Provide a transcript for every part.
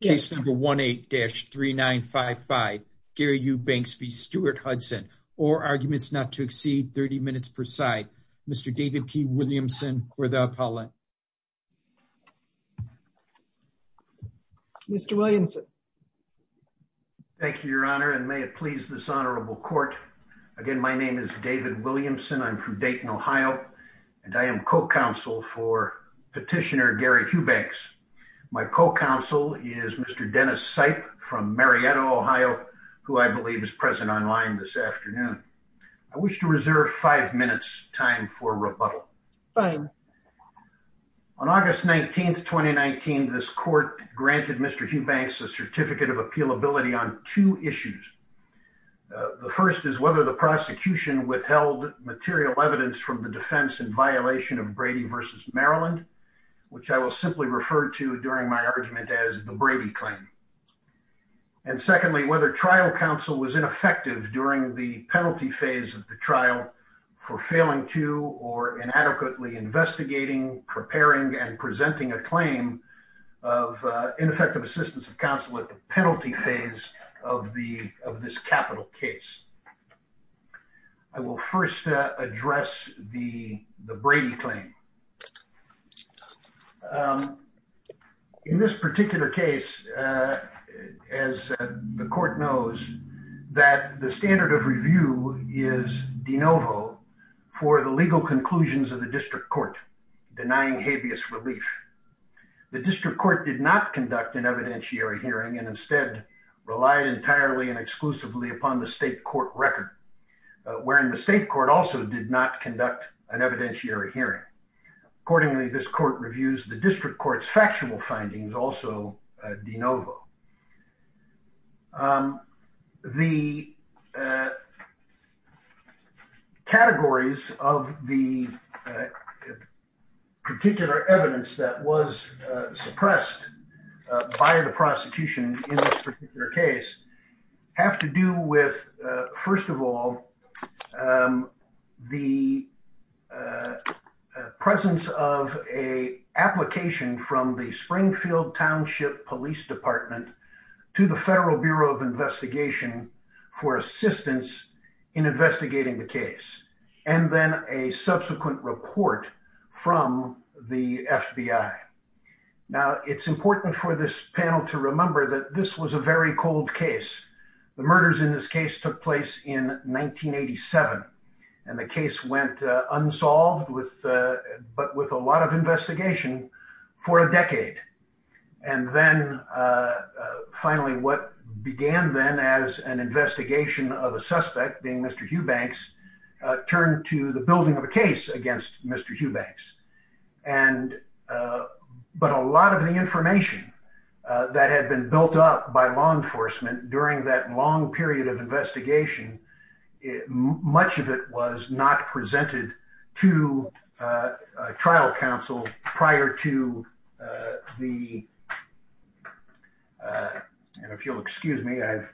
case number 18-3955 Gary Hughbanks v. Stuart Hudson or arguments not to exceed 30 minutes per side Mr. David P. Williamson or the appellant. Mr. Williamson. Thank you your honor and may it please this honorable court again my name is David Williamson I'm from Dayton Ohio and I am co-counsel for petitioner Gary Hughbanks. My co-counsel is Mr. Dennis Seip from Marietta, Ohio who I believe is present online this afternoon. I wish to reserve five minutes time for rebuttal. Fine. On August 19th 2019 this court granted Mr. Hughbanks a certificate of appealability on two issues. The first is whether the prosecution withheld material evidence from the defense in violation of Brady v. Maryland which I will simply refer to during my argument as the Brady claim. And secondly whether trial counsel was ineffective during the penalty phase of the trial for failing to or inadequately investigating preparing and presenting a claim of ineffective assistance of counsel at the penalty phase of the of this capital case. I will first address the the Brady claim. In this particular case as the court knows that the standard of review is de novo for the legal conclusions of the district court denying habeas relief. The district court did not conduct an record wherein the state court also did not conduct an evidentiary hearing. Accordingly this court reviews the district court's factual findings also de novo. The categories of the particular evidence that was suppressed by the prosecution in this particular case have to do with first of all the presence of a application from the Springfield Township Police Department to the Federal Bureau of Investigation for assistance in investigating the case and then a subsequent report from the FBI. Now it's important for this panel to remember that this was a very cold case. The murders in this case took place in 1987 and the case went unsolved with but with a lot of investigation for a decade. And then finally what began then as an investigation of a suspect being Mr. Hugh Banks turned to the building of a case against Mr. Hugh by law enforcement during that long period of investigation much of it was not presented to trial counsel prior to the and if you'll excuse me I've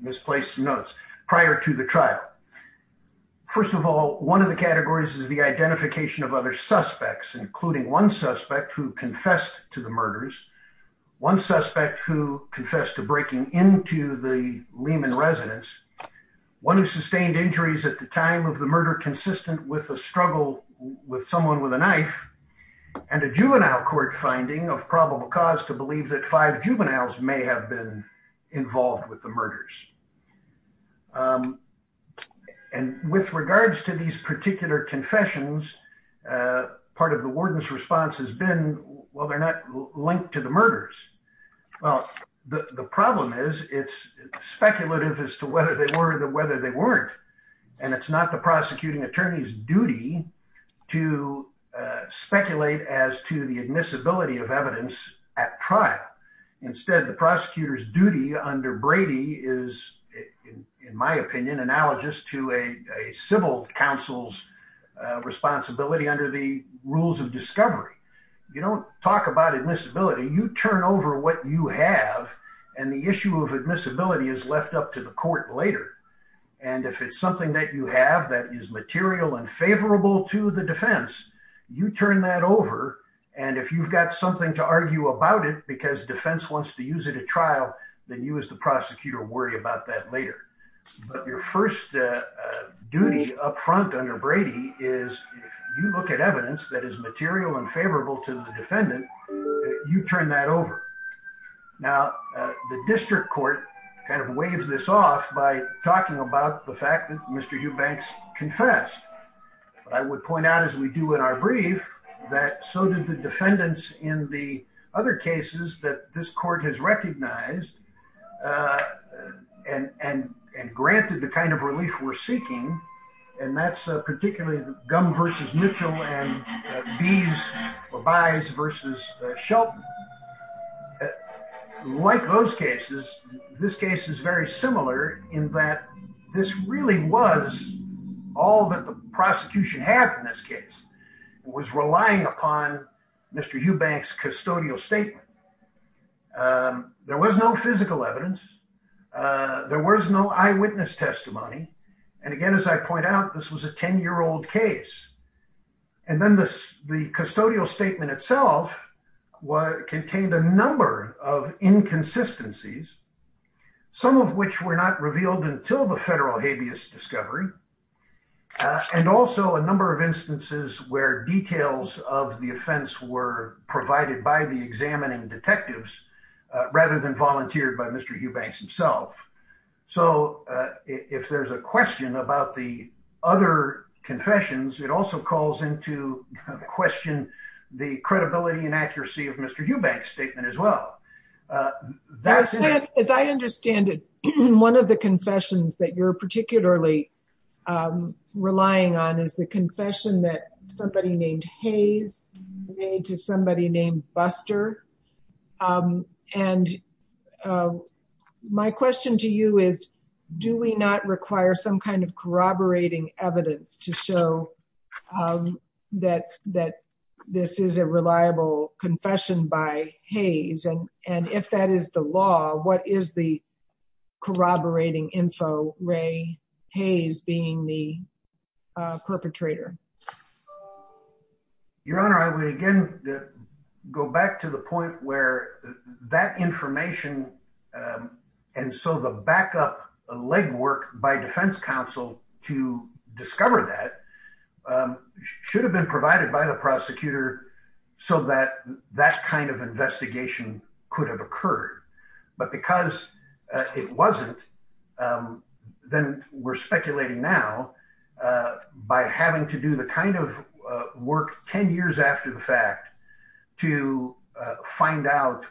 misplaced some notes prior to the trial. First of all one of the categories is the identification of other suspects including one suspect who confessed to the murders, one suspect who confessed to breaking into the Lehman residence, one who sustained injuries at the time of the murder consistent with a struggle with someone with a knife, and a juvenile court finding of probable cause to believe that five juveniles may have been involved with the murders. And with regards to these particular confessions part of the warden's response has been well they're not linked to the murders. Well the problem is it's speculative as to whether they were or whether they weren't and it's not the prosecuting attorney's duty to speculate as to the admissibility of evidence at trial. Instead the prosecutor's duty under Brady is in my opinion analogous to a civil counsel's responsibility under the rules of discovery. You don't talk about admissibility you turn over what you have and the issue of admissibility is left up to the court later and if it's something that you have that is material and favorable to the defense you turn that over and if you've got something to argue about it because defense wants to use it at trial then you as the prosecutor worry about that later. But your first duty up front under Brady is if you look at evidence that is material and favorable to the defendant you turn that over. Now the district court kind of waves this off by talking about the fact that Mr. Eubanks confessed but I would point out as we do in our brief that so did the defendants in the other cases that this case was recognized and granted the kind of relief we're seeking and that's particularly Gumb versus Mitchell and Bies versus Shelton. Like those cases this case is very similar in that this really was all that the prosecution had in this case was relying upon Mr. Eubanks custodial statement. There was no physical evidence there was no eyewitness testimony and again as I point out this was a 10-year-old case and then this the custodial statement itself contained a number of inconsistencies some of which were not revealed until the federal habeas discovery and also a number of instances where details of the offense were provided by the examining detectives rather than volunteered by Mr. Eubanks himself. So if there's a question about the other confessions it also calls into question the credibility and accuracy of Mr. Eubanks statement as well. As I understand it one of the confessions that you're particularly relying on is the confession that somebody named Hayes made to somebody named Buster and my question to you is do we not require some kind of corroborating evidence to show that this is a reliable confession by Hayes and if that is the law what is the corroborating info Ray Hayes being the perpetrator? Your honor I would again go back to the point where that information and so the backup leg work by defense counsel to discover that should have been provided by the prosecutor so that that kind of investigation could have occurred but because it wasn't then we're speculating now by having to do the kind of work 10 years after the fact to find out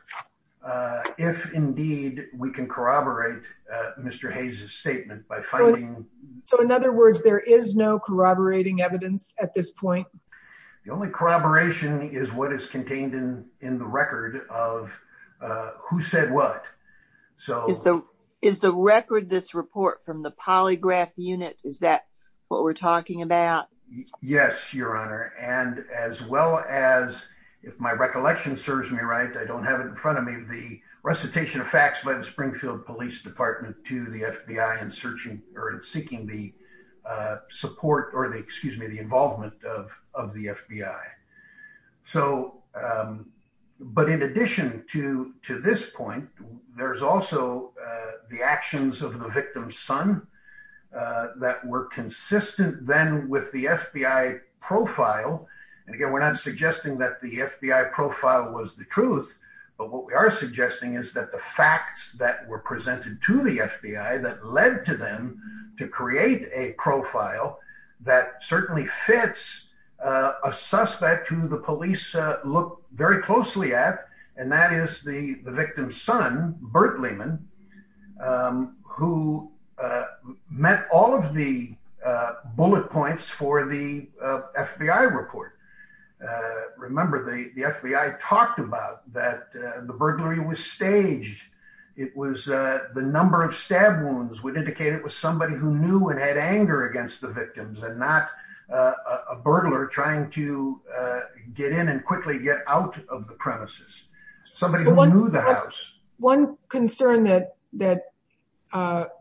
if indeed we can corroborate Mr. Hayes's statement. So in other words there is no corroborating evidence at this point? The only corroboration is what is contained in in the record of who said what. So is the record this report from the polygraph unit is that what we're talking about? Yes your honor and as well as if my recollection serves me right I don't have it in front of me the recitation of facts by the Springfield Police Department to the FBI in searching or in seeking the support or the excuse me the involvement of of the FBI. So but in addition to to this point there's also the actions of the victim's son that were consistent then with the FBI profile and again we're not suggesting that the FBI profile was the truth but what we are suggesting is that the facts that were presented to the FBI that led to them to create a profile that certainly fits a suspect who the police look very closely at and that is the the victim's son Burt Lehman who met all of the bullet points for the FBI report. Remember the the FBI talked about that the burglary was staged it was the number of stab wounds would indicate it was somebody who knew and had anger against the victims and not a burglar trying to get in and quickly get out of the premises somebody who knew the house. One concern that that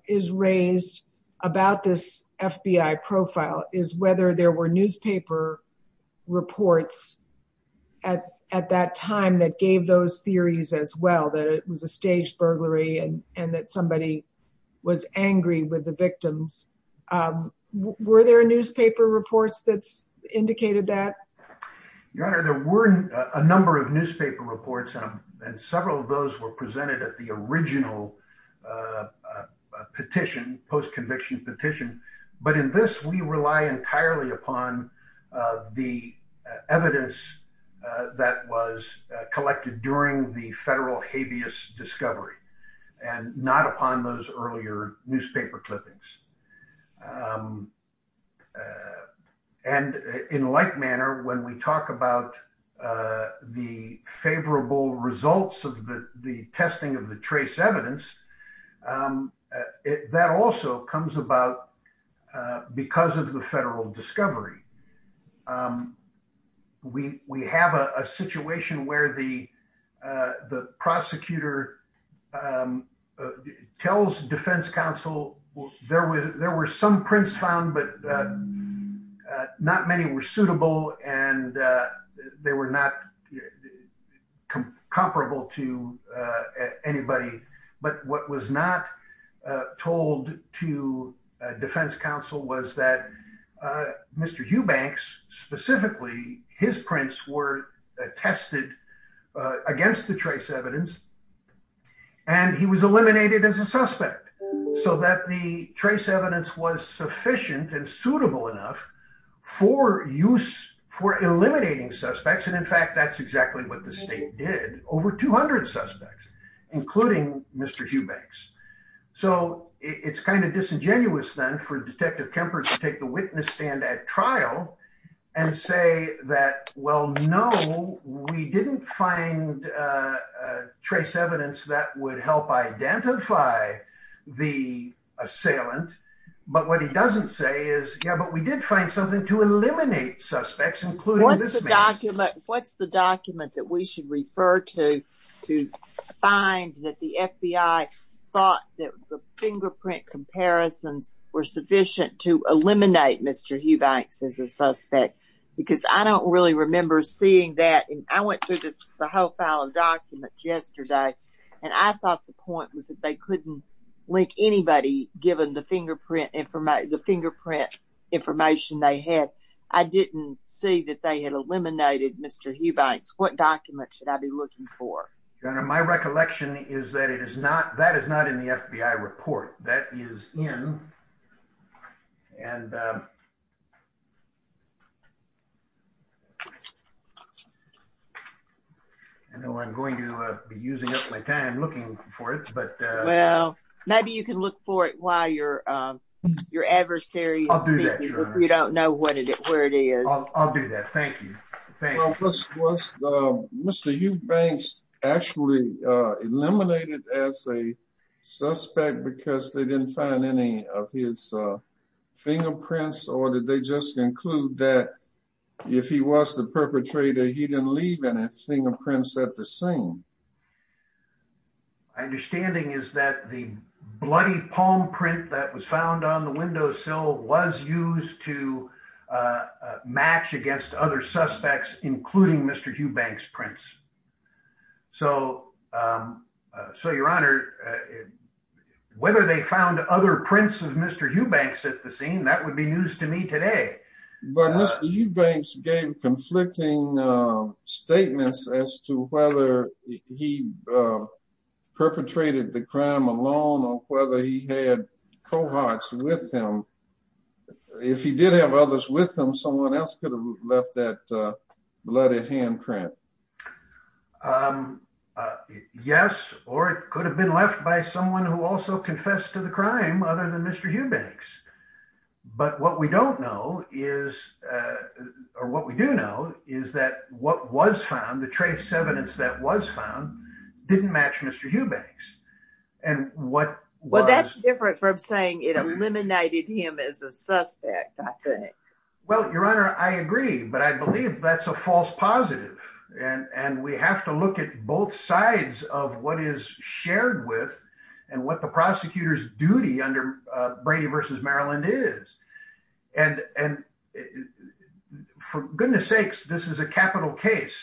is raised about this FBI profile is whether there were newspaper reports at at that time that gave those theories as well that it was a staged burglary and and that somebody was angry with the victims. Were there newspaper reports that's indicated that? Your original petition post-conviction petition but in this we rely entirely upon the evidence that was collected during the federal habeas discovery and not upon those earlier newspaper clippings and in like manner when we talk about the favorable results of the the testing of the trace evidence that also comes about because of the federal discovery. We have a situation where the prosecutor tells defense counsel there were some prints found but not many were suitable and they were not comparable to anybody but what was not against the trace evidence and he was eliminated as a suspect so that the trace evidence was sufficient and suitable enough for use for eliminating suspects and in fact that's exactly what the state did over 200 suspects including Mr. Hubex so it's kind of disingenuous then for a trace evidence that would help identify the assailant but what he doesn't say is yeah but we did find something to eliminate suspects including this document. What's the document that we should refer to to find that the FBI thought that the fingerprint comparisons were sufficient to eliminate Mr. Hubex as a suspect because I don't really remember seeing that and I went through this the whole file of documents yesterday and I thought the point was that they couldn't link anybody given the fingerprint information they had. I didn't see that they had eliminated Mr. Hubex. What document should I be looking for? My recollection is that it is not in the FBI report that is in and I know I'm going to be using up my time looking for it but well maybe you can look for it while your adversary is speaking if you don't know what it is where it is. I'll do that thank you. Was Mr. Hubex actually eliminated as a suspect because they didn't find any of his fingerprints or did they just conclude that if he was the perpetrator he didn't leave any fingerprints at the scene? My understanding is that the bloody palm print that was found on suspects including Mr. Hubex prints. So your honor whether they found other prints of Mr. Hubex at the scene that would be news to me today. But Mr. Hubex gave conflicting statements as to whether he perpetrated the crime alone or whether he had cohorts with him. If he did have others with him someone else could have left that bloody hand print. Yes or it could have been left by someone who also confessed to the crime other than Mr. Hubex but what we don't know is or what we do know is that what was found the trace evidence that was found didn't match Mr. Hubex. Well that's different from saying it eliminated him as a suspect I think. Well your honor I agree but I believe that's a false positive and and we have to look at both sides of what is shared with and what the prosecutor's duty under Brady versus Maryland is and and for goodness sakes this is a capital case.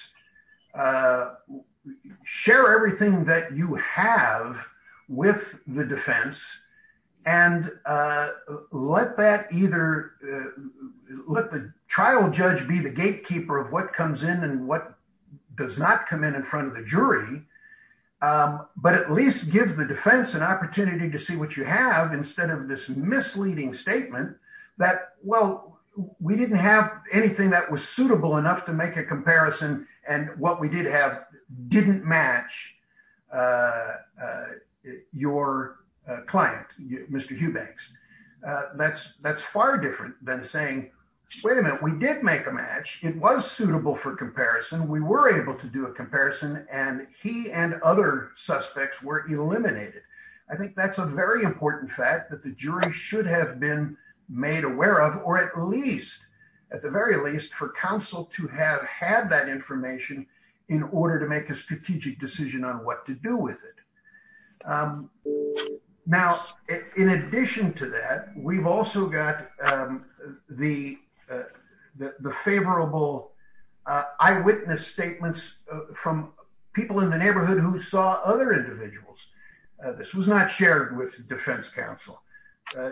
Share everything that you have with the defense and let that either let the trial judge be the gatekeeper of what comes in and what does not come in in front of the jury but at least gives the defense an opportunity to see what you have instead of this misleading statement that well we didn't have anything that was suitable enough to make a comparison and what we did have didn't match your client Mr. Hubex. That's that's far different than saying wait a minute we did make a match it was suitable for comparison we were able to do a comparison and he and other suspects were eliminated. I think that's a very important fact that the jury should have been made aware of or at least at the very least for counsel to have had that information in order to make a strategic decision on what to do with it. Now in addition to that we've also got the the favorable eyewitness statements from people in the neighborhood who saw other individuals. This was not shared with defense counsel.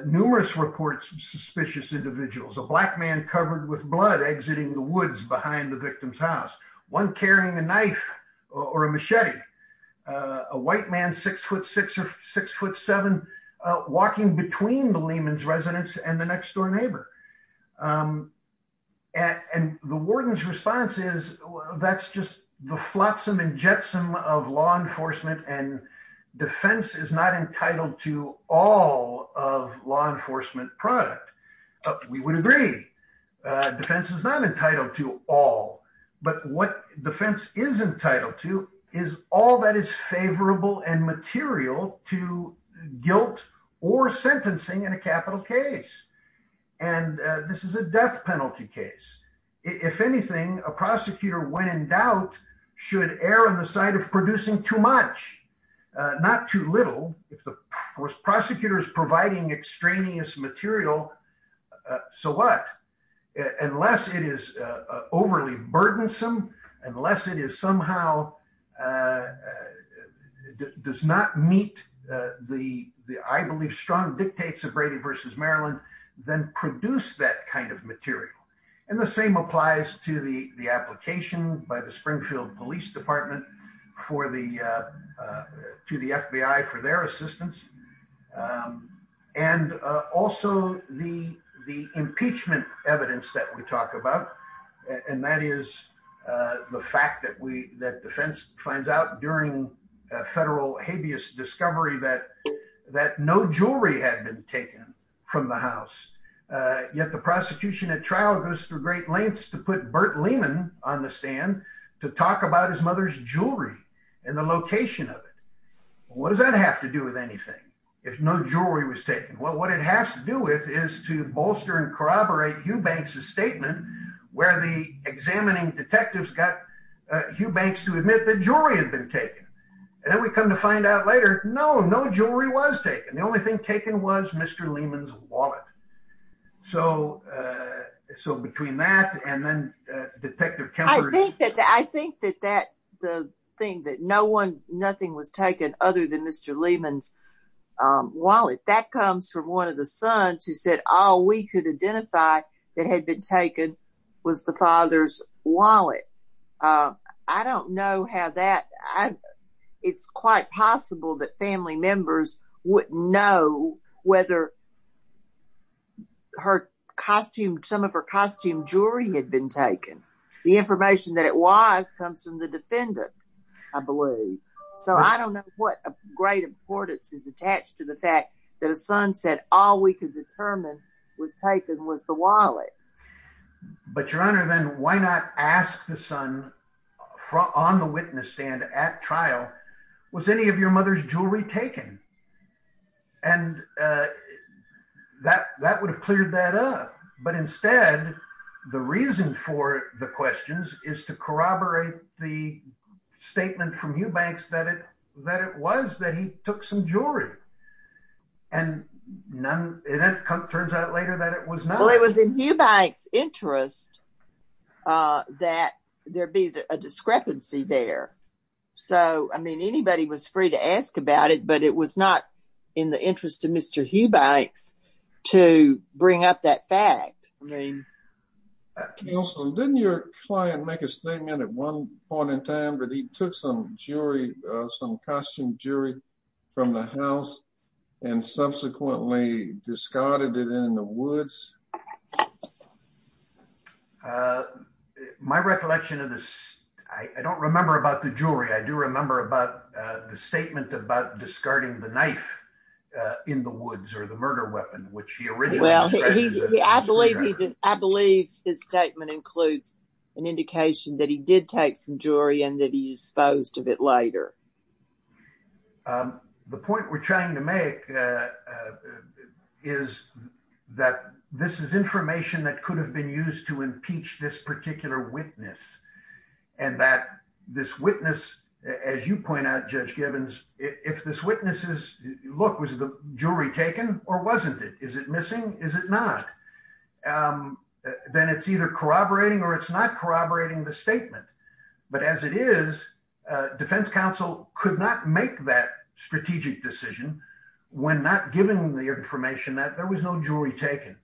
Numerous reports of suspicious individuals a black man covered with blood exiting the woods behind the victim's house one carrying a knife or a machete a white man six foot six or six foot seven walking between the Lehman's residence and the next door neighbor and the warden's response is that's just the flotsam and jetsam of law enforcement and defense is not entitled to all of law enforcement product. We would agree defense is not entitled to all but what defense is entitled to is all that is favorable and material to guilt or sentencing in a capital case and this is a death penalty case. If anything a prosecutor when in doubt should err on the side of producing too much not too little if the prosecutor is providing extraneous material so what unless it is overly burdensome unless it is somehow does not meet the I believe strong dictates of Brady versus Maryland then produce that kind of material and the same applies to the application by the Springfield Police Department for the to the FBI for their assistance and also the the impeachment evidence that we talk about and that is the fact that we that defense finds out during a federal habeas discovery that that no jewelry had been taken from the house yet the prosecution at trial goes through great lengths to put Bert Lehman on the stand to talk about his mother's jewelry and the location of it what does that have to do with anything if no jewelry was taken well what it has to do with is to bolster and corroborate Hugh Banks's statement where the examining detectives got Hugh Banks to admit that jewelry had been taken and then we come to find out later no no jewelry was taken the only thing taken was Mr. Lehman's wallet so uh so between that and then Detective Kemper I think that I think that that the thing that no one nothing was taken other than Mr. Lehman's wallet that comes from one of the sons who said all we could identify that had been taken was the father's wallet I don't know how that I it's quite possible that family members would know whether her costume some of her costume jewelry had been taken the information that it was comes from the defendant I believe so I don't know what a great importance is attached to the fact that a son said all we could determine was taken was the wallet but your honor then why not ask the son on the witness stand at trial was any of your mother's jewelry taken and uh that that would have cleared that up but instead the reason for the questions is to corroborate the statement from Hugh Banks that it that it was that he took some jewelry and none it turns out later that it was not it was in Hugh Banks interest uh that there be a discrepancy there so I mean anybody was free to ask about it but it was not in the interest of Mr. Hugh Banks to bring up that fact name. Counselor, didn't your client make a statement at one point in time that he took some jewelry uh some costume jewelry from the house and subsequently discarded it in the woods? Uh my recollection of this I don't remember about the jewelry I do remember about uh the statement about discarding the knife uh in the woods or the murder weapon which he yeah I believe he did I believe his statement includes an indication that he did take some jewelry and that he disposed of it later. Um the point we're trying to make uh uh is that this is information that could have been used to impeach this particular witness and that this witness as you point out Judge Gibbons if this witnesses look was the jewelry taken or wasn't it is it missing is it not um then it's either corroborating or it's not corroborating the statement but as it is uh defense counsel could not make that strategic decision when not giving the information that there was no jewelry taken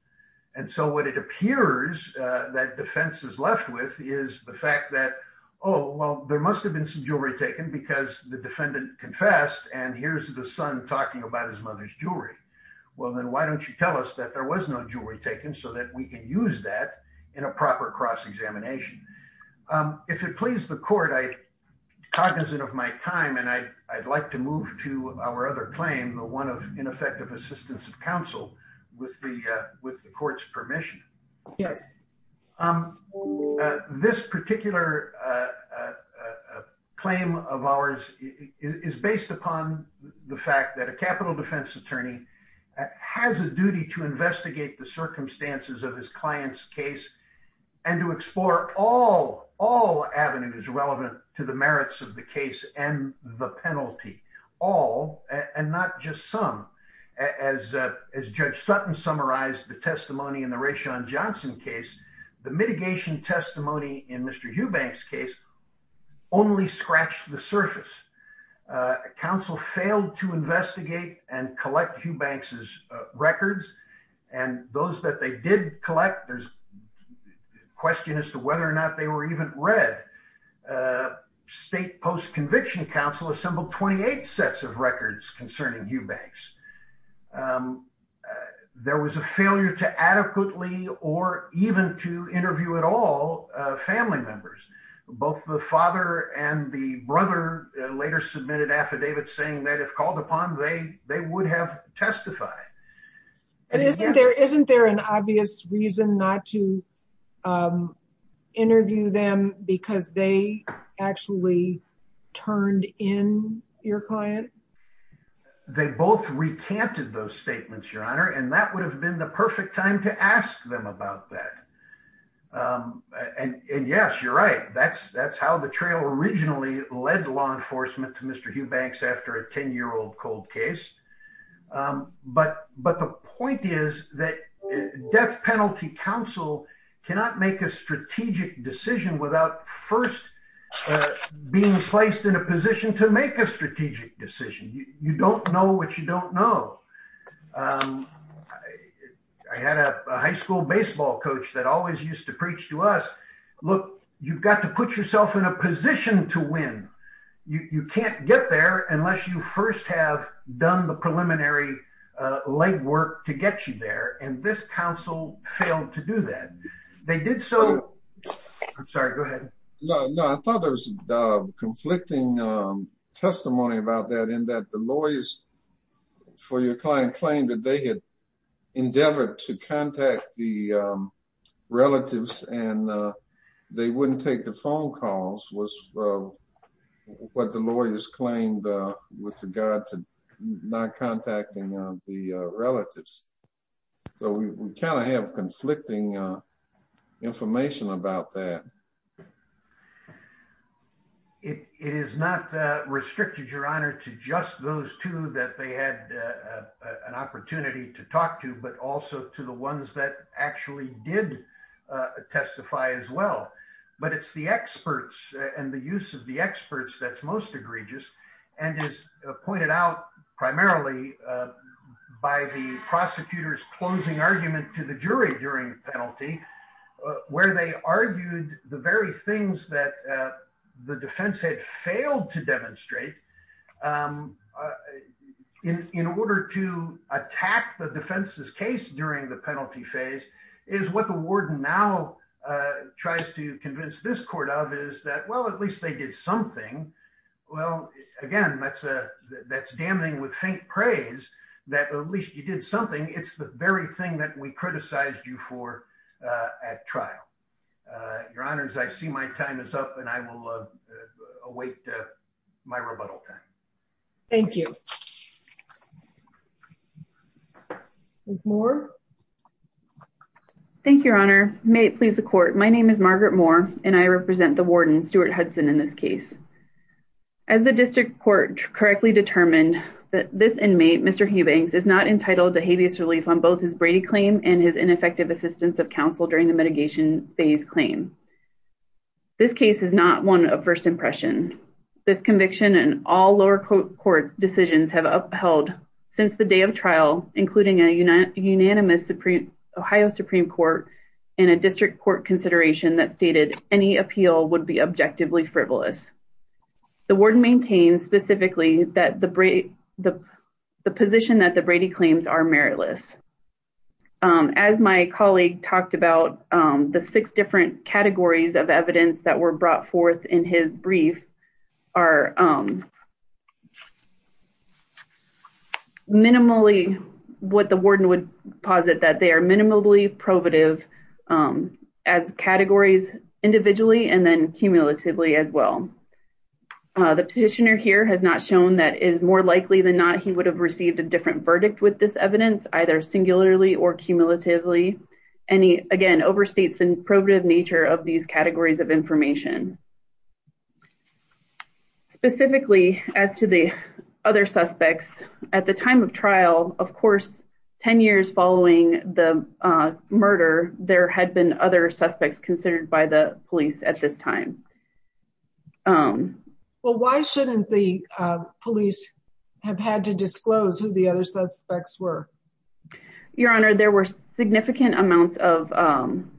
and so what it appears uh that defense is left with is the fact that oh well there must have been some jewelry taken because the defendant confessed and here's the son talking about his mother's jewelry well then why don't you tell us that there was no jewelry taken so that we can use that in a proper cross-examination. Um if it please the court I cognizant of my time and I I'd like to move to our other claim the one of ineffective assistance of counsel with the uh permission yes um uh this particular uh uh uh claim of ours is based upon the fact that a capital defense attorney has a duty to investigate the circumstances of his client's case and to explore all all avenues relevant to the merits of the case and the penalty all and not just some as uh as Judge Sutton summarized the testimony in the Rayshon Johnson case the mitigation testimony in Mr. Hughbank's case only scratched the surface. Uh counsel failed to investigate and collect Hughbank's records and those that they did collect there's question as to whether or not they were even read. Uh state post-conviction counsel assembled 28 sets of records concerning Hughbank's. Um there was a failure to adequately or even to interview at all family members. Both the father and the brother later submitted affidavits saying that if called upon they they would have testified. And isn't there isn't there an obvious reason not to um they both recanted those statements your honor and that would have been the perfect time to ask them about that. Um and and yes you're right that's that's how the trail originally led law enforcement to Mr. Hughbank's after a 10-year-old cold case. Um but but the point is that death penalty counsel cannot make a strategic decision without first uh being placed in a position to you don't know what you don't know. Um I had a high school baseball coach that always used to preach to us look you've got to put yourself in a position to win. You you can't get there unless you first have done the preliminary uh legwork to get you there and this counsel failed to do that. They did so I'm sorry go ahead. No no I thought there was uh conflicting um testimony about that and that the lawyers for your client claimed that they had endeavored to contact the um relatives and uh they wouldn't take the phone calls was uh what the lawyers claimed uh with regard to not contacting uh the uh relatives. So we kind of have conflicting uh information about that. It it is not uh restricted your honor to just those two that they had uh an opportunity to talk to but also to the ones that actually did uh testify as well. But it's the experts and the use of the experts that's most egregious and is pointed out primarily uh by the prosecutors closing argument to the jury during the penalty where they argued the very things that uh the defense had failed to demonstrate um in in order to attack the defense's case during the penalty phase is what the warden now uh tries to convince this court of is that well at least they did something. Well again that's a that's damning with faint praise that at least you did something. It's the very thing that we criticized you for uh at trial. Uh your honors I see my time is up and I will await my rebuttal time. Thank you. Ms. Moore. Thank you your honor. May it please the court. My name is Margaret Moore and I represent the warden Stuart Hudson in this case. As the on both his Brady claim and his ineffective assistance of counsel during the mitigation phase claim. This case is not one of first impression. This conviction and all lower court decisions have upheld since the day of trial including a unanimous Ohio Supreme Court and a district court consideration that stated any appeal would be objectively frivolous. The warden maintains specifically that the the position that the Brady claims are meritless. As my colleague talked about the six different categories of evidence that were brought forth in his brief are minimally what the warden would posit that they are minimally probative um as categories individually and then cumulatively as well. Uh the petitioner here has not shown that is more likely than not he would have received a different verdict with this evidence either singularly or cumulatively and he again overstates the probative nature of these categories of information. Specifically as to the other suspects at the time of trial of course 10 years following the uh murder there had been other suspects considered by the police at this time. Um well why shouldn't the uh police have had to disclose who the other suspects were? Your honor there were significant amounts of um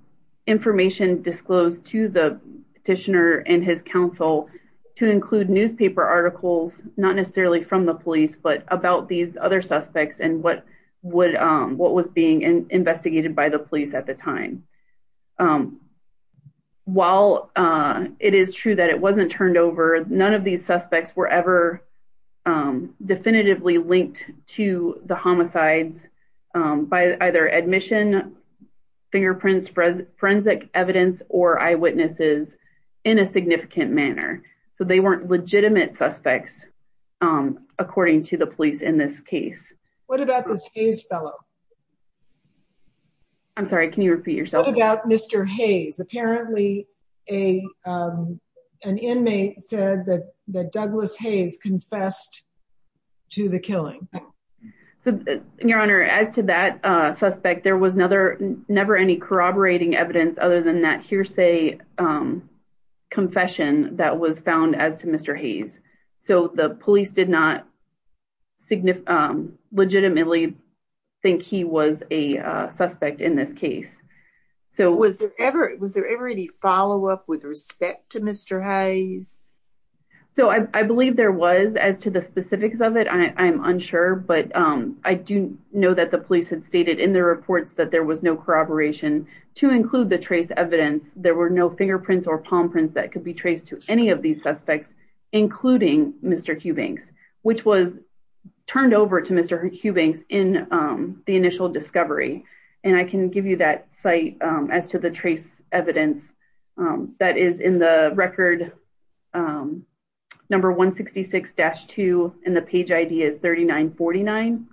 information disclosed to the petitioner and his counsel to include newspaper articles not necessarily from the police but about these other suspects and what would um what was being investigated by the police at the time. Um while uh it is true that it wasn't turned over none of these suspects were ever um definitively linked to the homicides um by either admission fingerprints forensic evidence or eyewitnesses in a significant manner. So they weren't legitimate suspects um according to the case. What about this Hayes fellow? I'm sorry can you repeat yourself? What about Mr. Hayes? Apparently a um an inmate said that that Douglas Hayes confessed to the killing. So your honor as to that uh suspect there was another never any corroborating evidence other than that hearsay um confession that was found as to Mr. Hayes. So the police did not signify um legitimately think he was a uh suspect in this case. So was there ever was there ever any follow-up with respect to Mr. Hayes? So I believe there was as to the specifics of it I'm unsure but um I do know that the police had stated in their reports that there was no corroboration to include the trace evidence. There were no fingerprints or palm prints that could be traced to any of these suspects including Mr. Hubings which was turned over to Mr. Hubings in um the initial discovery. And I can give you that site um as to the trace evidence um that is in the record um number 166-2 and the page id is 3949.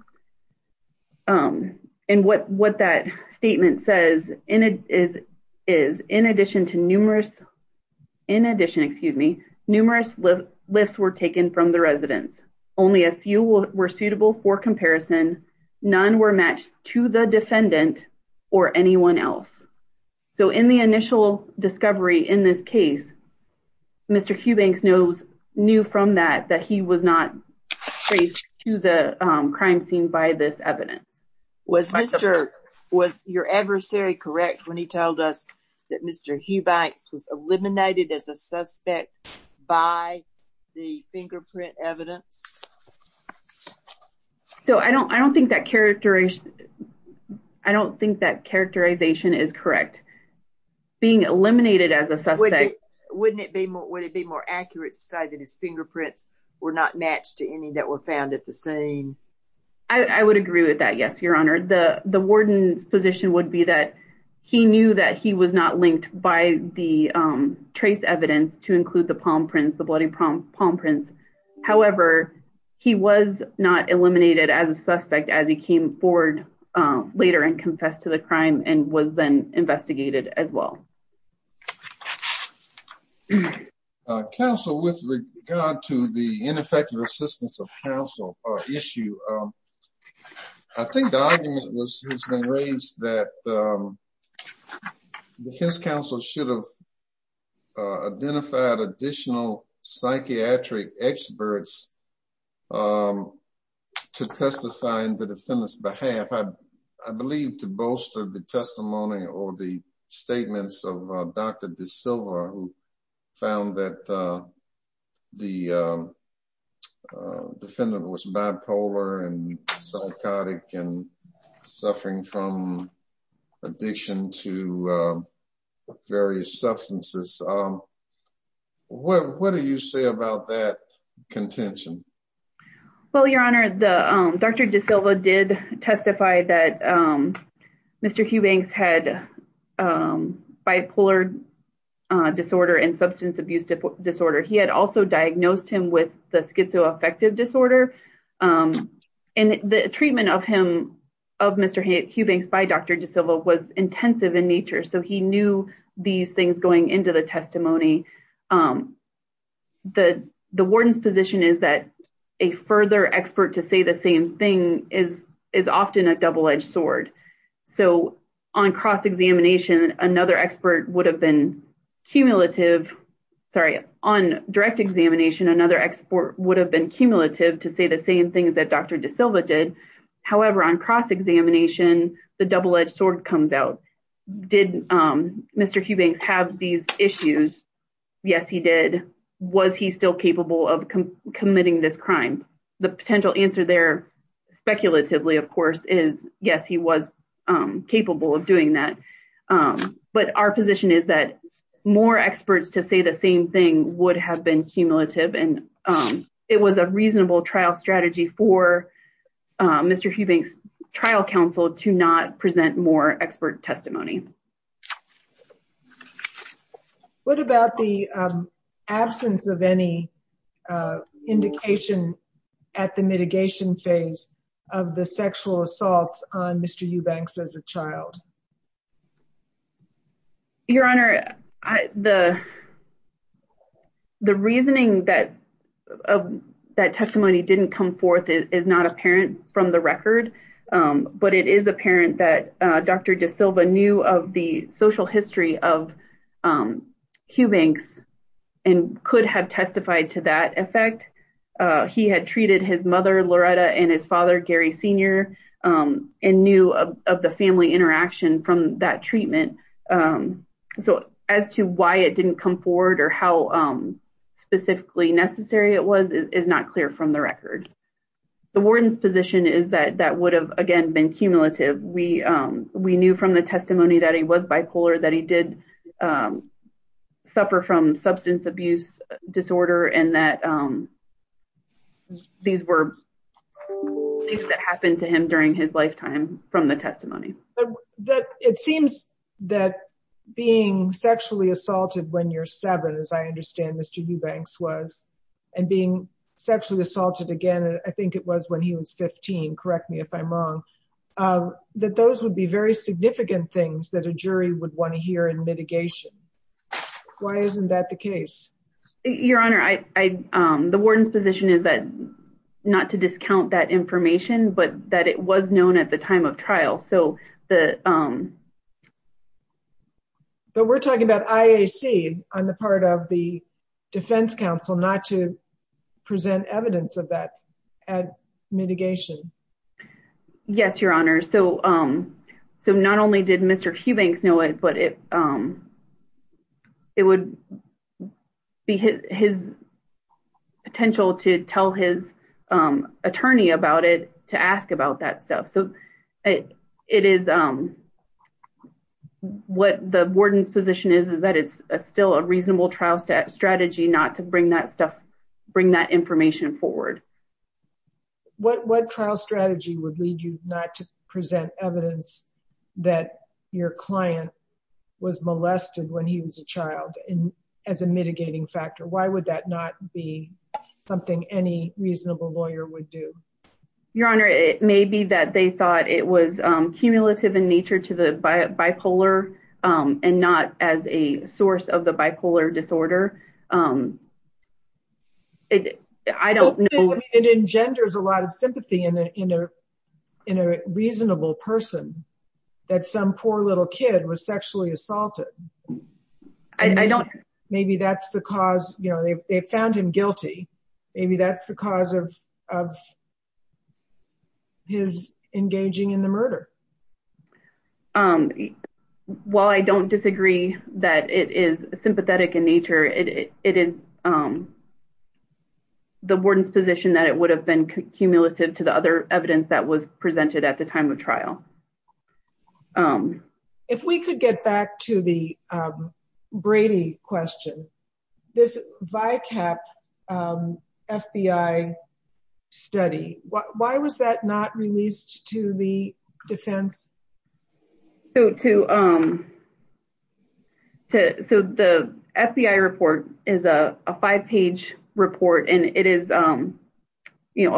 Um and what what that statement says in it is is in addition to numerous in addition excuse me numerous lifts were taken from the residents. Only a few were suitable for comparison none were matched to the defendant or anyone else. So in the initial discovery in this case Mr. Hubings knows knew from that that he was not traced to the crime scene by this evidence. Was Mr. was your adversary correct when he told us that Mr. Hubings was eliminated as a suspect by the fingerprint evidence? So I don't I don't think that characterization I don't think that characterization is correct. Being eliminated as a suspect wouldn't it be more would it be more accurate to say that his fingerprints were not matched to any that were found at the scene? I I would agree with that by the trace evidence to include the palm prints the bloody palm prints. However he was not eliminated as a suspect as he came forward later and confessed to the crime and was then investigated as well. Council with regard to the ineffective assistance of council issue um I think the council should have identified additional psychiatric experts um to testify in the defendant's behalf. I believe to bolster the testimony or the statements of Dr. De Silva who found that the defendant was bipolar and psychotic and suffering from addiction to various substances. What do you say about that contention? Well your honor the Dr. De Silva did testify that Mr. Hubings had bipolar disorder and substance abuse disorder. He had also diagnosed him with the schizoaffective disorder and the treatment of him of Mr. Hubings by Dr. De Silva was intensive in nature so he knew these things going into the testimony. The the warden's position is that a further expert to say the same thing is is often a double-edged sword. So on cross examination another expert would have been cumulative sorry on direct examination another expert would have been cumulative to say the same things that Dr. De Silva did. However on cross-examination the double-edged sword comes out. Did Mr. Hubings have these issues? Yes he did. Was he still capable of committing this crime? The potential answer there speculatively of course is yes he was capable of doing that. But our position is that more experts to say the same thing would have been cumulative and it was a reasonable trial strategy for Mr. Hubings trial counsel to not present more expert testimony. What about the absence of any indication at the mitigation phase of the sexual assaults on Mr. Hubings as a child? Your honor I the the reasoning that of that testimony didn't come forth is not apparent from the record but it is apparent that Dr. De Silva knew of the social history of Hubings and could have testified to that effect. He had treated his mother Loretta and his father Gary senior and knew of the family interaction from that treatment. So as to why it didn't come forward or how specifically necessary it was is not clear from the record. The warden's position is that that would have again been cumulative. We knew from the testimony that he was bipolar that he did suffer from substance abuse disorder and that these were things that happened to him during his lifetime from the testimony. It seems that being sexually assaulted when you're seven as I understand Mr. Hubings was and being sexually assaulted again I think it was when he was 15 correct me if I'm wrong that those would be very significant things that a jury would want to hear in mitigation. Why isn't that the case? Your honor I the warden's position is that not to discount that information but that it was known at the time of trial so the but we're talking about IAC on the part of the defense council not to present evidence of that mitigation. Yes your honor so not only did Mr. Hubings know it but it would be his potential to tell his attorney about it to ask about that stuff. So it is what the warden's position is is that it's still a reasonable trial strategy not to bring that stuff bring that information forward. What trial strategy would lead you not to present evidence that your client was molested when he was a child and as a mitigating factor why would that not be something any reasonable lawyer would do? Your honor it may be that they thought it was cumulative in nature to the bipolar and not as a source of the bipolar disorder. I don't know. It engenders a lot of sympathy in a reasonable person that some poor little kid was sexually assaulted. I don't. Maybe that's the cause you know they found him guilty maybe that's of his engaging in the murder. While I don't disagree that it is sympathetic in nature it is the warden's position that it would have been cumulative to the other evidence that was studied. Why was that not released to the defense? So the FBI report is a five-page report and it is a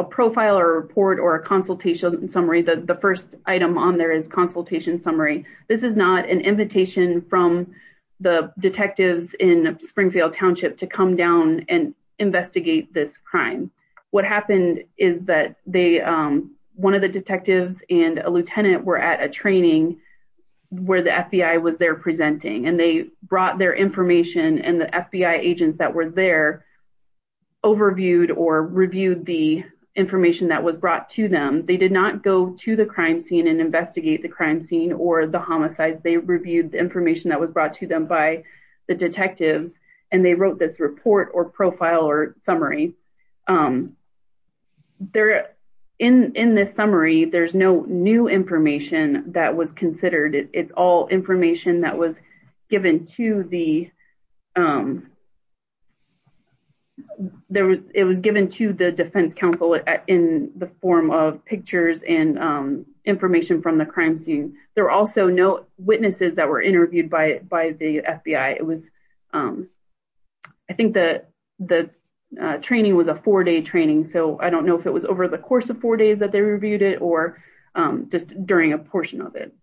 profile or report or a consultation summary. The first item on there is consultation summary. This is not an invitation from the detectives in Springfield Township to come down and investigate this crime. What happened is that one of the detectives and a lieutenant were at a training where the FBI was there presenting and they brought their information and the FBI agents that were there overviewed or reviewed the information that was brought to them. They did not go to the crime scene and investigate the crime scene or the homicides. They reviewed the information that was brought to them by the detectives and they wrote this report or profile or summary. In this summary there's no new information that was considered. It's all information that was given to the defense counsel in the form of pictures and information from the crime scene. There were also no witnesses that were interviewed by the FBI. It was a four-day training. I don't know if it was over the course of four days that they reviewed it or just during a portion of it.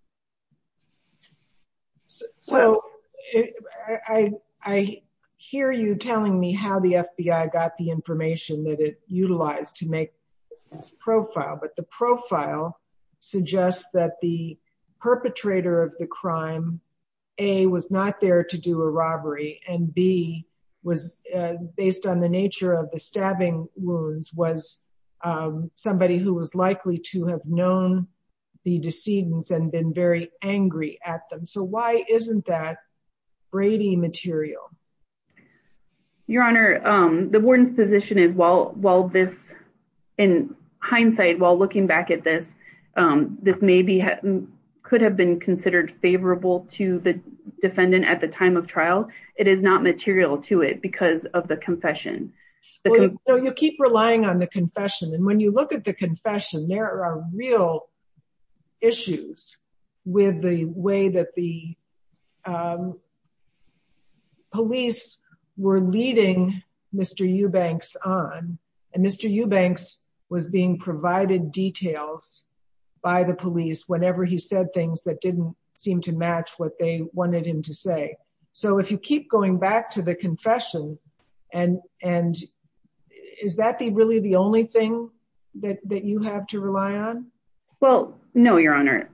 I hear you telling me how the FBI got the information that it utilized to make this profile but the profile suggests that the perpetrator of the crime a was not there to do a robbery and b was based on the nature of the stabbing wounds was somebody who was likely to have known the decedents and been very angry at them. So why isn't that Brady material? Your honor, the warden's position is while this in hindsight while looking back at this maybe could have been considered favorable to the defendant at the time of trial it is not material to it because of the confession. You keep relying on the confession and when you look at the confession there are real issues with the way that the police were leading Mr. Eubanks on and Mr. Eubanks was being provided details by the police whenever he said things that didn't seem to match what they wanted him to say. So if you keep going back to the confession and and is that the really the only thing that that you have to rely on? Well no your honor,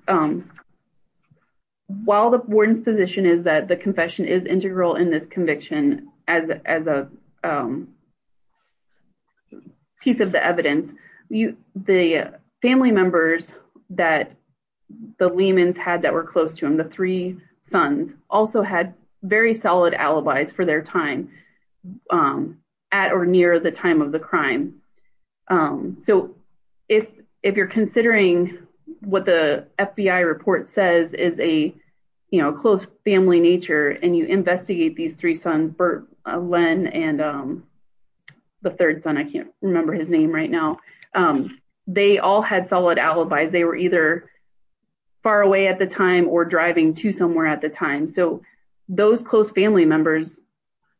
while the warden's position is that the confession is integral in this conviction as as a piece of the evidence you the family members that the Lehmans had that were close to him the three sons also had very solid alibis for their time at or near the time of the crime. So if if you're considering what the FBI report says is a you know close family nature and you Len and the third son I can't remember his name right now they all had solid alibis they were either far away at the time or driving to somewhere at the time. So those close family members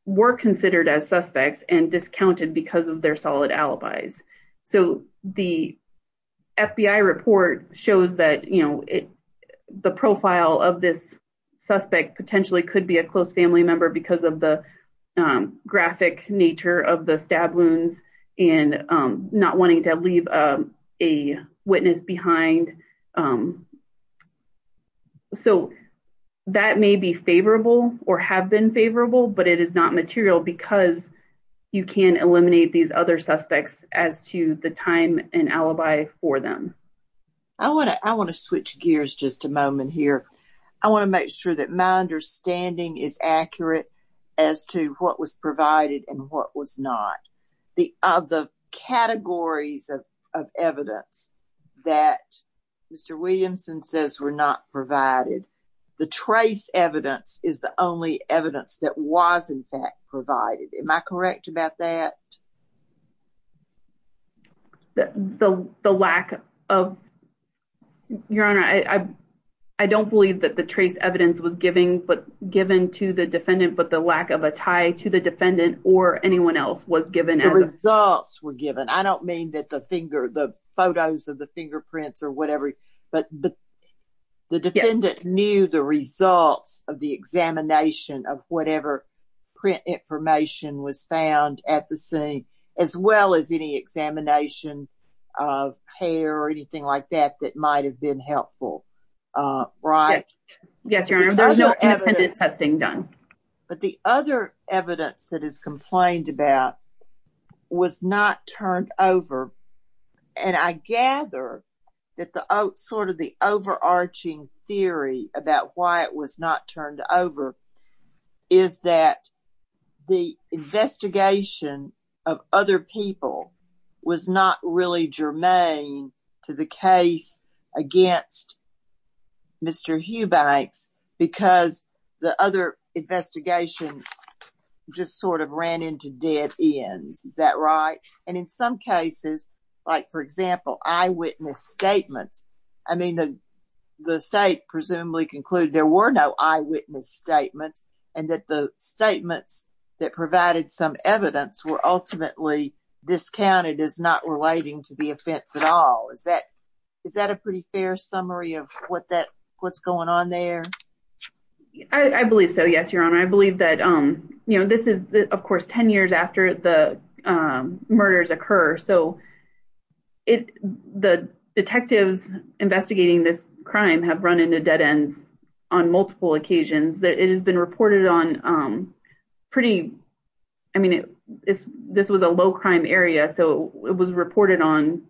were considered as suspects and discounted because of their solid alibis. So the FBI report shows that you know the profile of this suspect potentially could be a close family member because of the graphic nature of the stab wounds and not wanting to leave a witness behind. So that may be favorable or have been favorable but it is not material because you can eliminate these other suspects as to the time and alibi for them. I want to I want to switch gears just a moment here. I want to make sure that my understanding is accurate as to what was provided and what was not. The of the categories of of evidence that Mr. Williamson says were not provided the trace evidence is the only evidence that was in fact provided. Am I correct about that? The the lack of your honor I I don't believe that the trace evidence was giving but given to the defendant but the lack of a tie to the defendant or anyone else was given. The results were given I don't mean that the finger the photos of the fingerprints or whatever but the the defendant knew the results of the examination of whatever print information was found at the scene. As well as any examination of hair or anything like that that might have been helpful right? Yes your honor there's no evidence testing done. But the other evidence that is complained about was not turned over and I gather that the sort of the overarching theory about why it was not other people was not really germane to the case against Mr. Hughbanks because the other investigation just sort of ran into dead ends. Is that right? And in some cases like for example eyewitness statements I mean the the state presumably concluded there were no eyewitness statements and that the statements that provided some evidence were ultimately discounted as not relating to the offense at all. Is that is that a pretty fair summary of what that what's going on there? I believe so yes your honor I believe that you know this is of course 10 years after the murders occur so it the detectives investigating this crime have run into dead ends on multiple occasions that it has been reported on pretty I mean it is this was a low crime area so it was reported on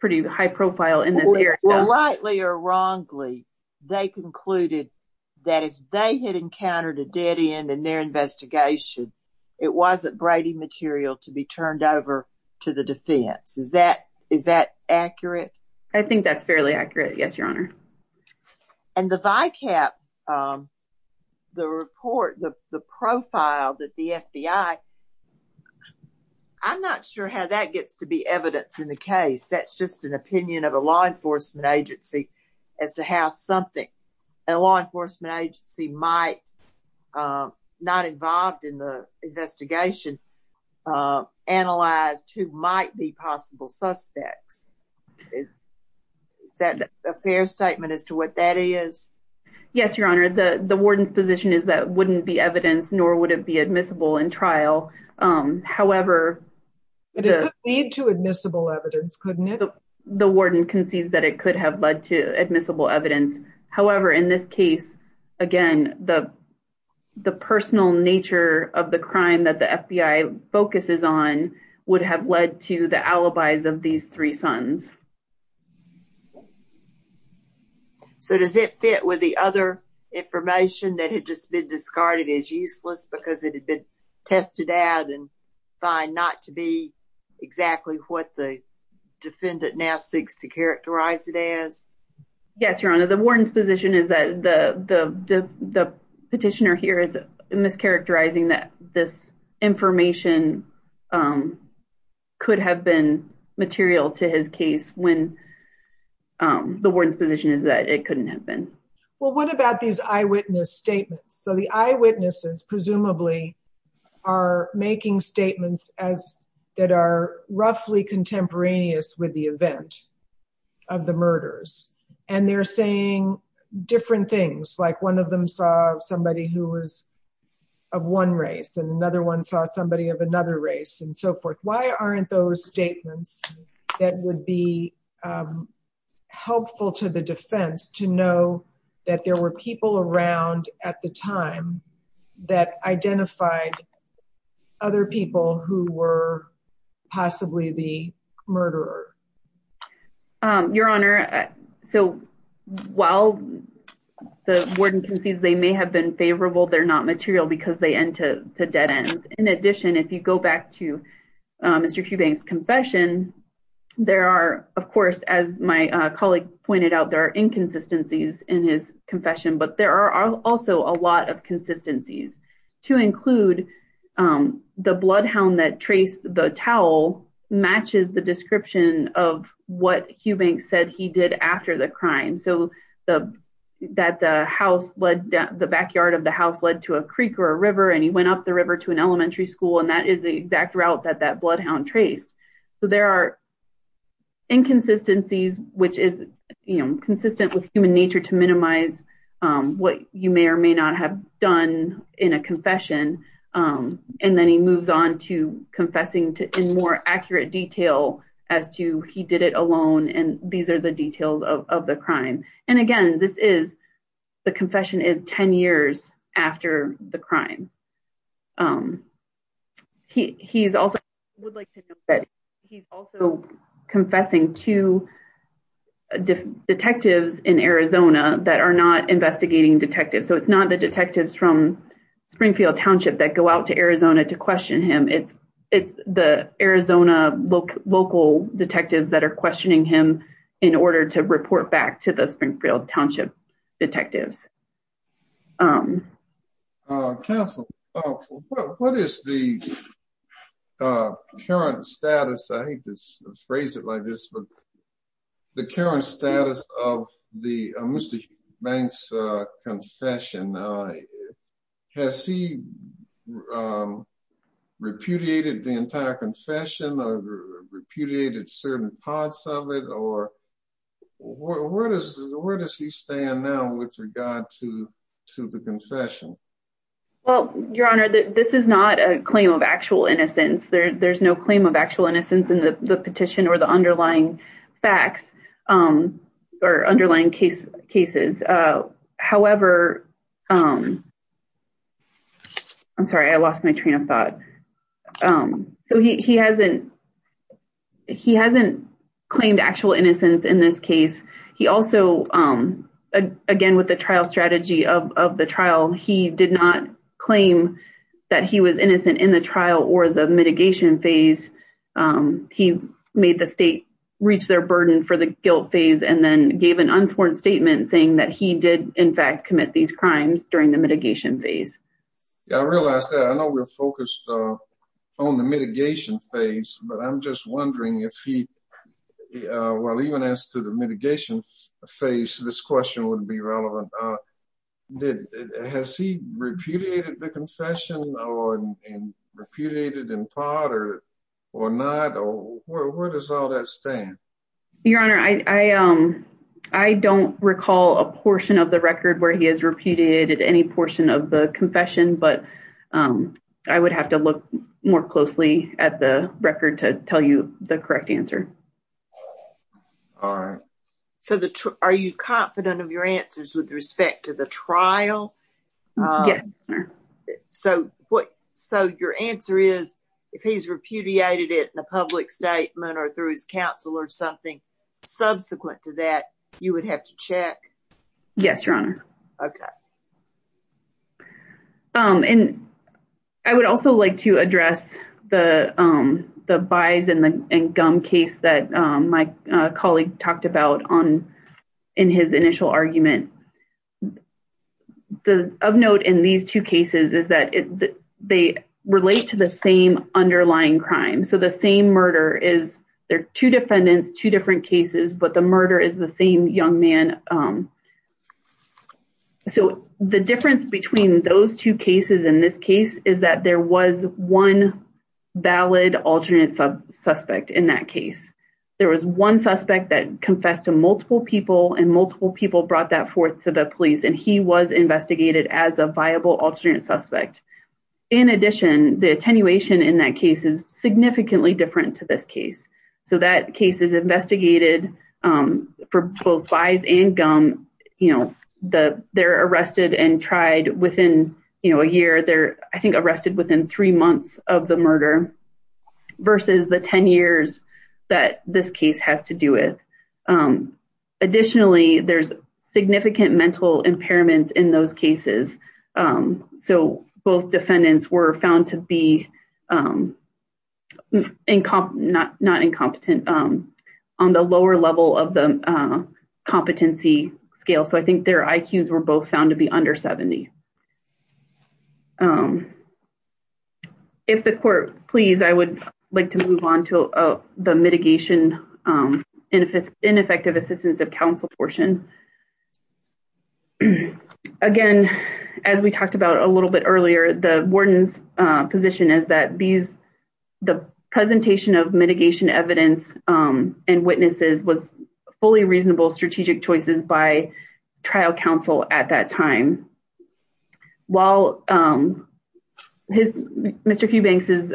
pretty high profile in this area. Well rightly or wrongly they concluded that if they had encountered a dead end in their investigation it wasn't Brady material to be turned over to the defense. Is that is that accurate? I think that's fairly accurate yes your If I cap the report the the profile that the FBI I'm not sure how that gets to be evidence in the case that's just an opinion of a law enforcement agency as to how something a law enforcement agency might not involved in the investigation analyzed who might be possible suspects. Okay is that a fair statement as to what that is? Yes your honor the the warden's position is that wouldn't be evidence nor would it be admissible in trial however. But it would lead to admissible evidence couldn't it? The warden concedes that it could have led to admissible evidence however in this case again the the personal nature of the crime that the FBI focuses on would have led to the alibis of these three sons. So does it fit with the other information that had just been discarded as useless because it had been tested out and find not to be exactly what the defendant now seeks to characterize it as? Yes your honor the warden's position is that the the the petitioner here is mischaracterizing that this information could have been material to his case when the warden's position is that it couldn't have been. Well what about these eyewitness statements so the eyewitnesses presumably are making statements as that are roughly contemporaneous with the event of the murders and they're saying different things like one of them saw somebody who of one race and another one saw somebody of another race and so forth. Why aren't those statements that would be helpful to the defense to know that there were people around at the time that identified other people who were possibly the murderer? Your honor so while the warden may have been favorable they're not material because they end to dead ends. In addition if you go back to Mr. Hubank's confession there are of course as my colleague pointed out there are inconsistencies in his confession but there are also a lot of consistencies to include the bloodhound that traced the towel matches the description of what Hubank said he did after the so that the house led the backyard of the house led to a creek or a river and he went up the river to an elementary school and that is the exact route that that bloodhound traced. So there are inconsistencies which is you know consistent with human nature to minimize what you may or may not have done in a confession and then he moves on to confessing to in more accurate detail as to he did it alone and these are the details of the crime and again this is the confession is 10 years after the crime. He's also would like to know that he's also confessing to detectives in Arizona that are not investigating detectives so it's not the detectives from that are questioning him in order to report back to the Springfield Township detectives. Council what is the current status I hate to phrase it like this but the current status of the Mr. Hubank's confession has he repudiated the entire confession or repudiated certain parts of it or where does where does he stand now with regard to to the confession? Well your honor that this is not a claim of actual innocence there there's no claim of actual innocence in the petition or the underlying facts or underlying case cases. However, I'm sorry I lost my train of thought so he hasn't he hasn't claimed actual innocence in this case. He also again with the trial strategy of the trial he did not claim that he was innocent in the trial or the mitigation phase. He made the state reach their burden for the guilt phase and then gave an unsworn statement saying that he did in fact commit these crimes during the mitigation phase. I realize that I know we're focused on the mitigation phase but I'm just wondering if he while even as to the mitigation phase this question would be relevant. Has he repudiated the confession or repudiated in part or not or where does all that stand? Your honor I don't recall a portion of the record where he has repudiated any portion of the confession but I would have to look more closely at the record to tell you the correct answer. All right so the are you confident of your answers with the public statement or through his counsel or something subsequent to that you would have to check? Yes your honor. Okay. And I would also like to address the the buys and gum case that my colleague talked about on in his initial argument. The of note in these two cases is that they relate to the same underlying crime. So the same murder is there two defendants two different cases but the murder is the same young man. So the difference between those two cases in this case is that there was one valid alternate suspect in that case. There was one suspect that confessed to multiple people and multiple people brought that forth to the police and he was investigated as a viable alternate suspect. In addition the attenuation in that case is significantly different to this case. So that case is investigated for both buys and gum you know the they're arrested and tried within you know a year they're I think arrested within three months of the murder versus the 10 years that this case has to do with. Additionally there's significant mental impairments in those cases. So both defendants were found to be not not incompetent on the lower level of the competency scale. So I think their IQs were both found to be under 70. If the court please I would like to move on to the mitigation and if it's ineffective assistance of counsel portion. Again as we talked about a little bit earlier the warden's position is that these the presentation of mitigation evidence and witnesses was fully reasonable strategic choices by trial counsel at that time. While his Mr. Cubanks'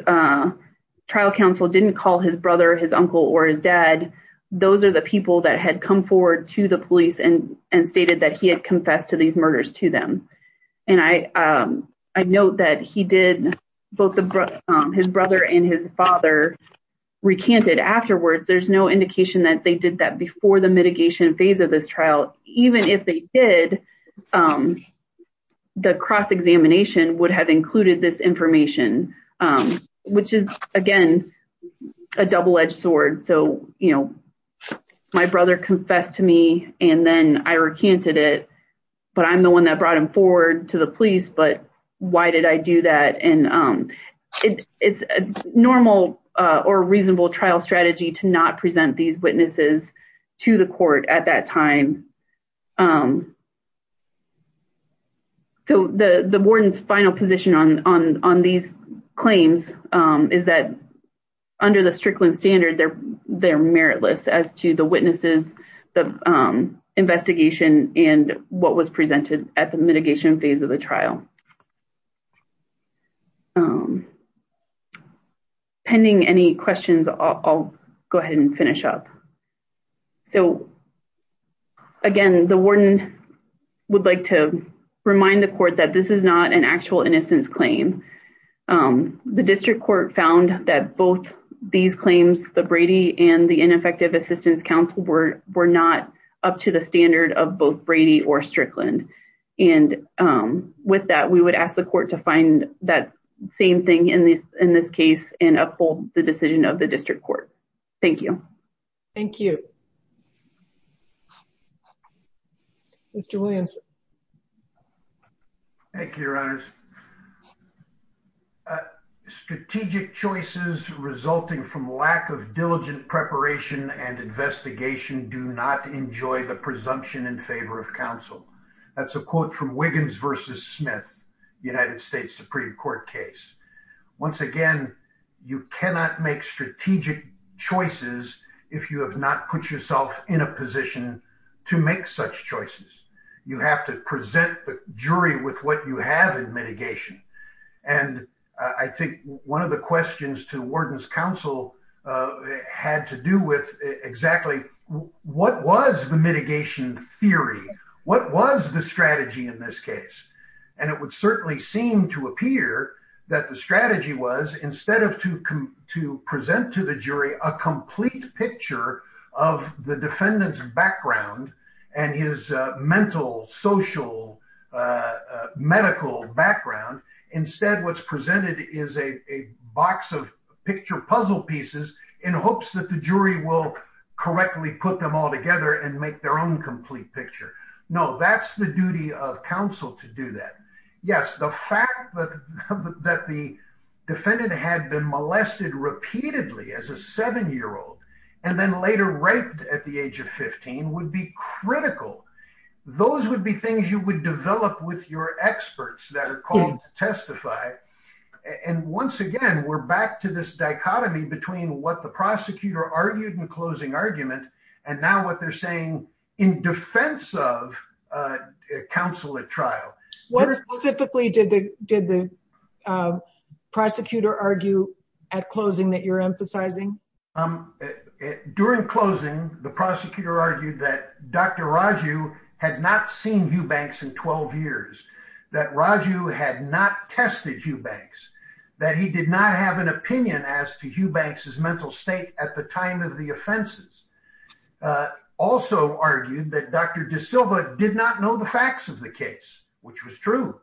trial counsel didn't call his brother his uncle or his dad those are the people that had come forward to the police and and stated that he had confessed to these murders to them. And I I note that he did both the his brother and his father recanted afterwards. There's no indication that they did that before the mitigation phase of this trial. Even if they did the cross-examination would have included this information which is again a double-edged sword. So you know my brother confessed to me and then I recanted it but I'm the one that brought him forward to the police but why did I do that? And it's a normal or reasonable trial strategy to not present these witnesses to the court at that time. So the the warden's final position on on on these claims is that under the Strickland standard they're they're meritless as to the witnesses the investigation and what was presented at the mitigation phase of the trial. Pending any questions I'll go ahead and finish up. So again the warden would like to remind the court that this is not an actual innocence claim. The district court found that both these claims the Brady and the ineffective assistance council were were not up to the standard of both Brady or Strickland. And with that we would ask the court to find that same thing in this in this case and uphold the decision of the district court. Thank you. Thank you. Mr. Williams. Thank you your honors. Strategic choices resulting from lack of diligent preparation and investigation do not enjoy the presumption in favor of counsel. That's a quote from Wiggins versus Smith United States Supreme Court case. Once again you cannot make strategic choices if you have not put yourself in a position to make such choices. You have to present the jury with what you have in mitigation. And I think one of the questions to warden's counsel had to do with exactly what was the mitigation theory. What was the strategy in this case. And it would certainly seem to appear that the strategy was instead of to come to present to the jury a complete picture of the defendant's background and his mental social medical background. Instead what's presented is a box of picture puzzle pieces in hopes that the jury will correctly put them all together and make their own complete picture. No that's the duty of counsel to do that. Yes the fact that the defendant had been molested repeatedly as a seven year old and then later raped at the age of 15 would be critical. Those would be things you would develop with your testify. And once again we're back to this dichotomy between what the prosecutor argued in closing argument and now what they're saying in defense of counsel at trial. What specifically did the prosecutor argue at closing that you're emphasizing? During closing the prosecutor argued that Dr. Raju had not seen Hugh Banks in 12 years. That Raju had not tested Hugh Banks. That he did not have an opinion as to Hugh Banks's mental state at the time of the offenses. Also argued that Dr. De Silva did not know the facts of the case which was true.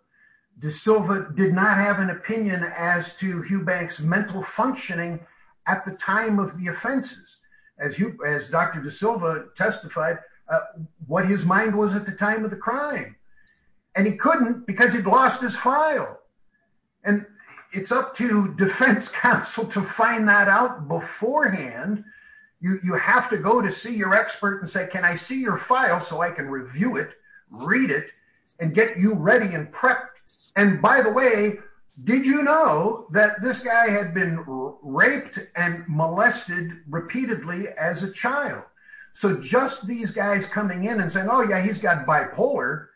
De Silva did not have an opinion as to Hugh Banks mental functioning at the time of the offenses. As Dr. De Silva testified what his mind was at the time of the crime. And he couldn't because he'd lost his file. And it's up to defense counsel to find that out beforehand. You have to go to see your expert and say can I see your file so I can review it, read it, and get you ready and prepped. And by the way did you know that this guy had been raped and molested repeatedly as a child. So just these guys coming in and saying oh yeah he's got bipolar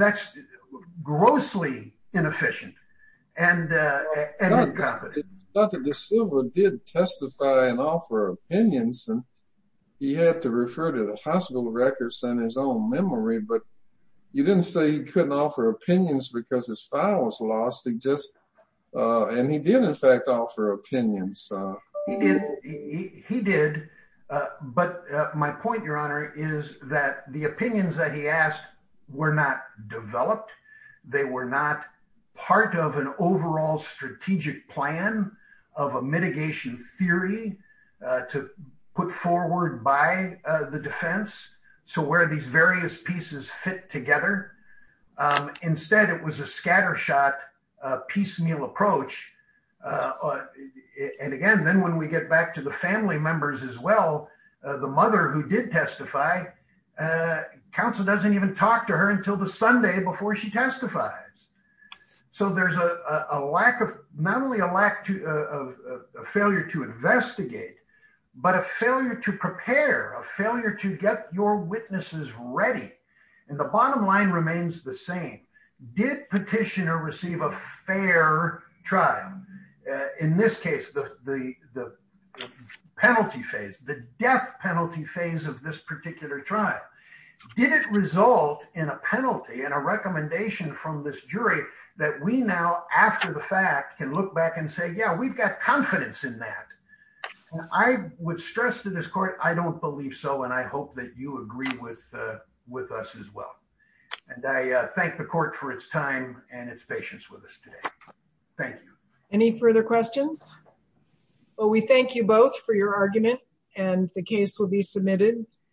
that's grossly inefficient and incompetent. Dr. De Silva did testify and offer opinions and he had to refer to the hospital records in his own memory. But you didn't say he couldn't offer opinions because his file was lost. And he did in fact offer opinions. He did but my point your honor is that the opinions that he asked were not developed. They were not part of an overall strategic plan of a mitigation theory to put forward by the defense. So where these various pieces fit together. Instead it was a scattershot piecemeal approach. And again then when we get back to the family members as well the mother who did testify counsel doesn't even talk to her until the Sunday before she testifies. So there's a lack of not only a lack of a failure to investigate but a failure to prepare, a failure to get your witnesses ready. And the bottom line remains the same. Did petitioner receive a fair trial? In this case the penalty phase, the death penalty phase of this particular trial. Did it result in a penalty and a recommendation from this jury that we now after the fact can look back and say yeah we've got confidence in that. I would stress to this court I don't believe so and I hope that you agree with with us as well. And I thank the court for its time and its patience with us today. Thank you. Any further questions? Well we thank you both for your argument and the case will be submitted.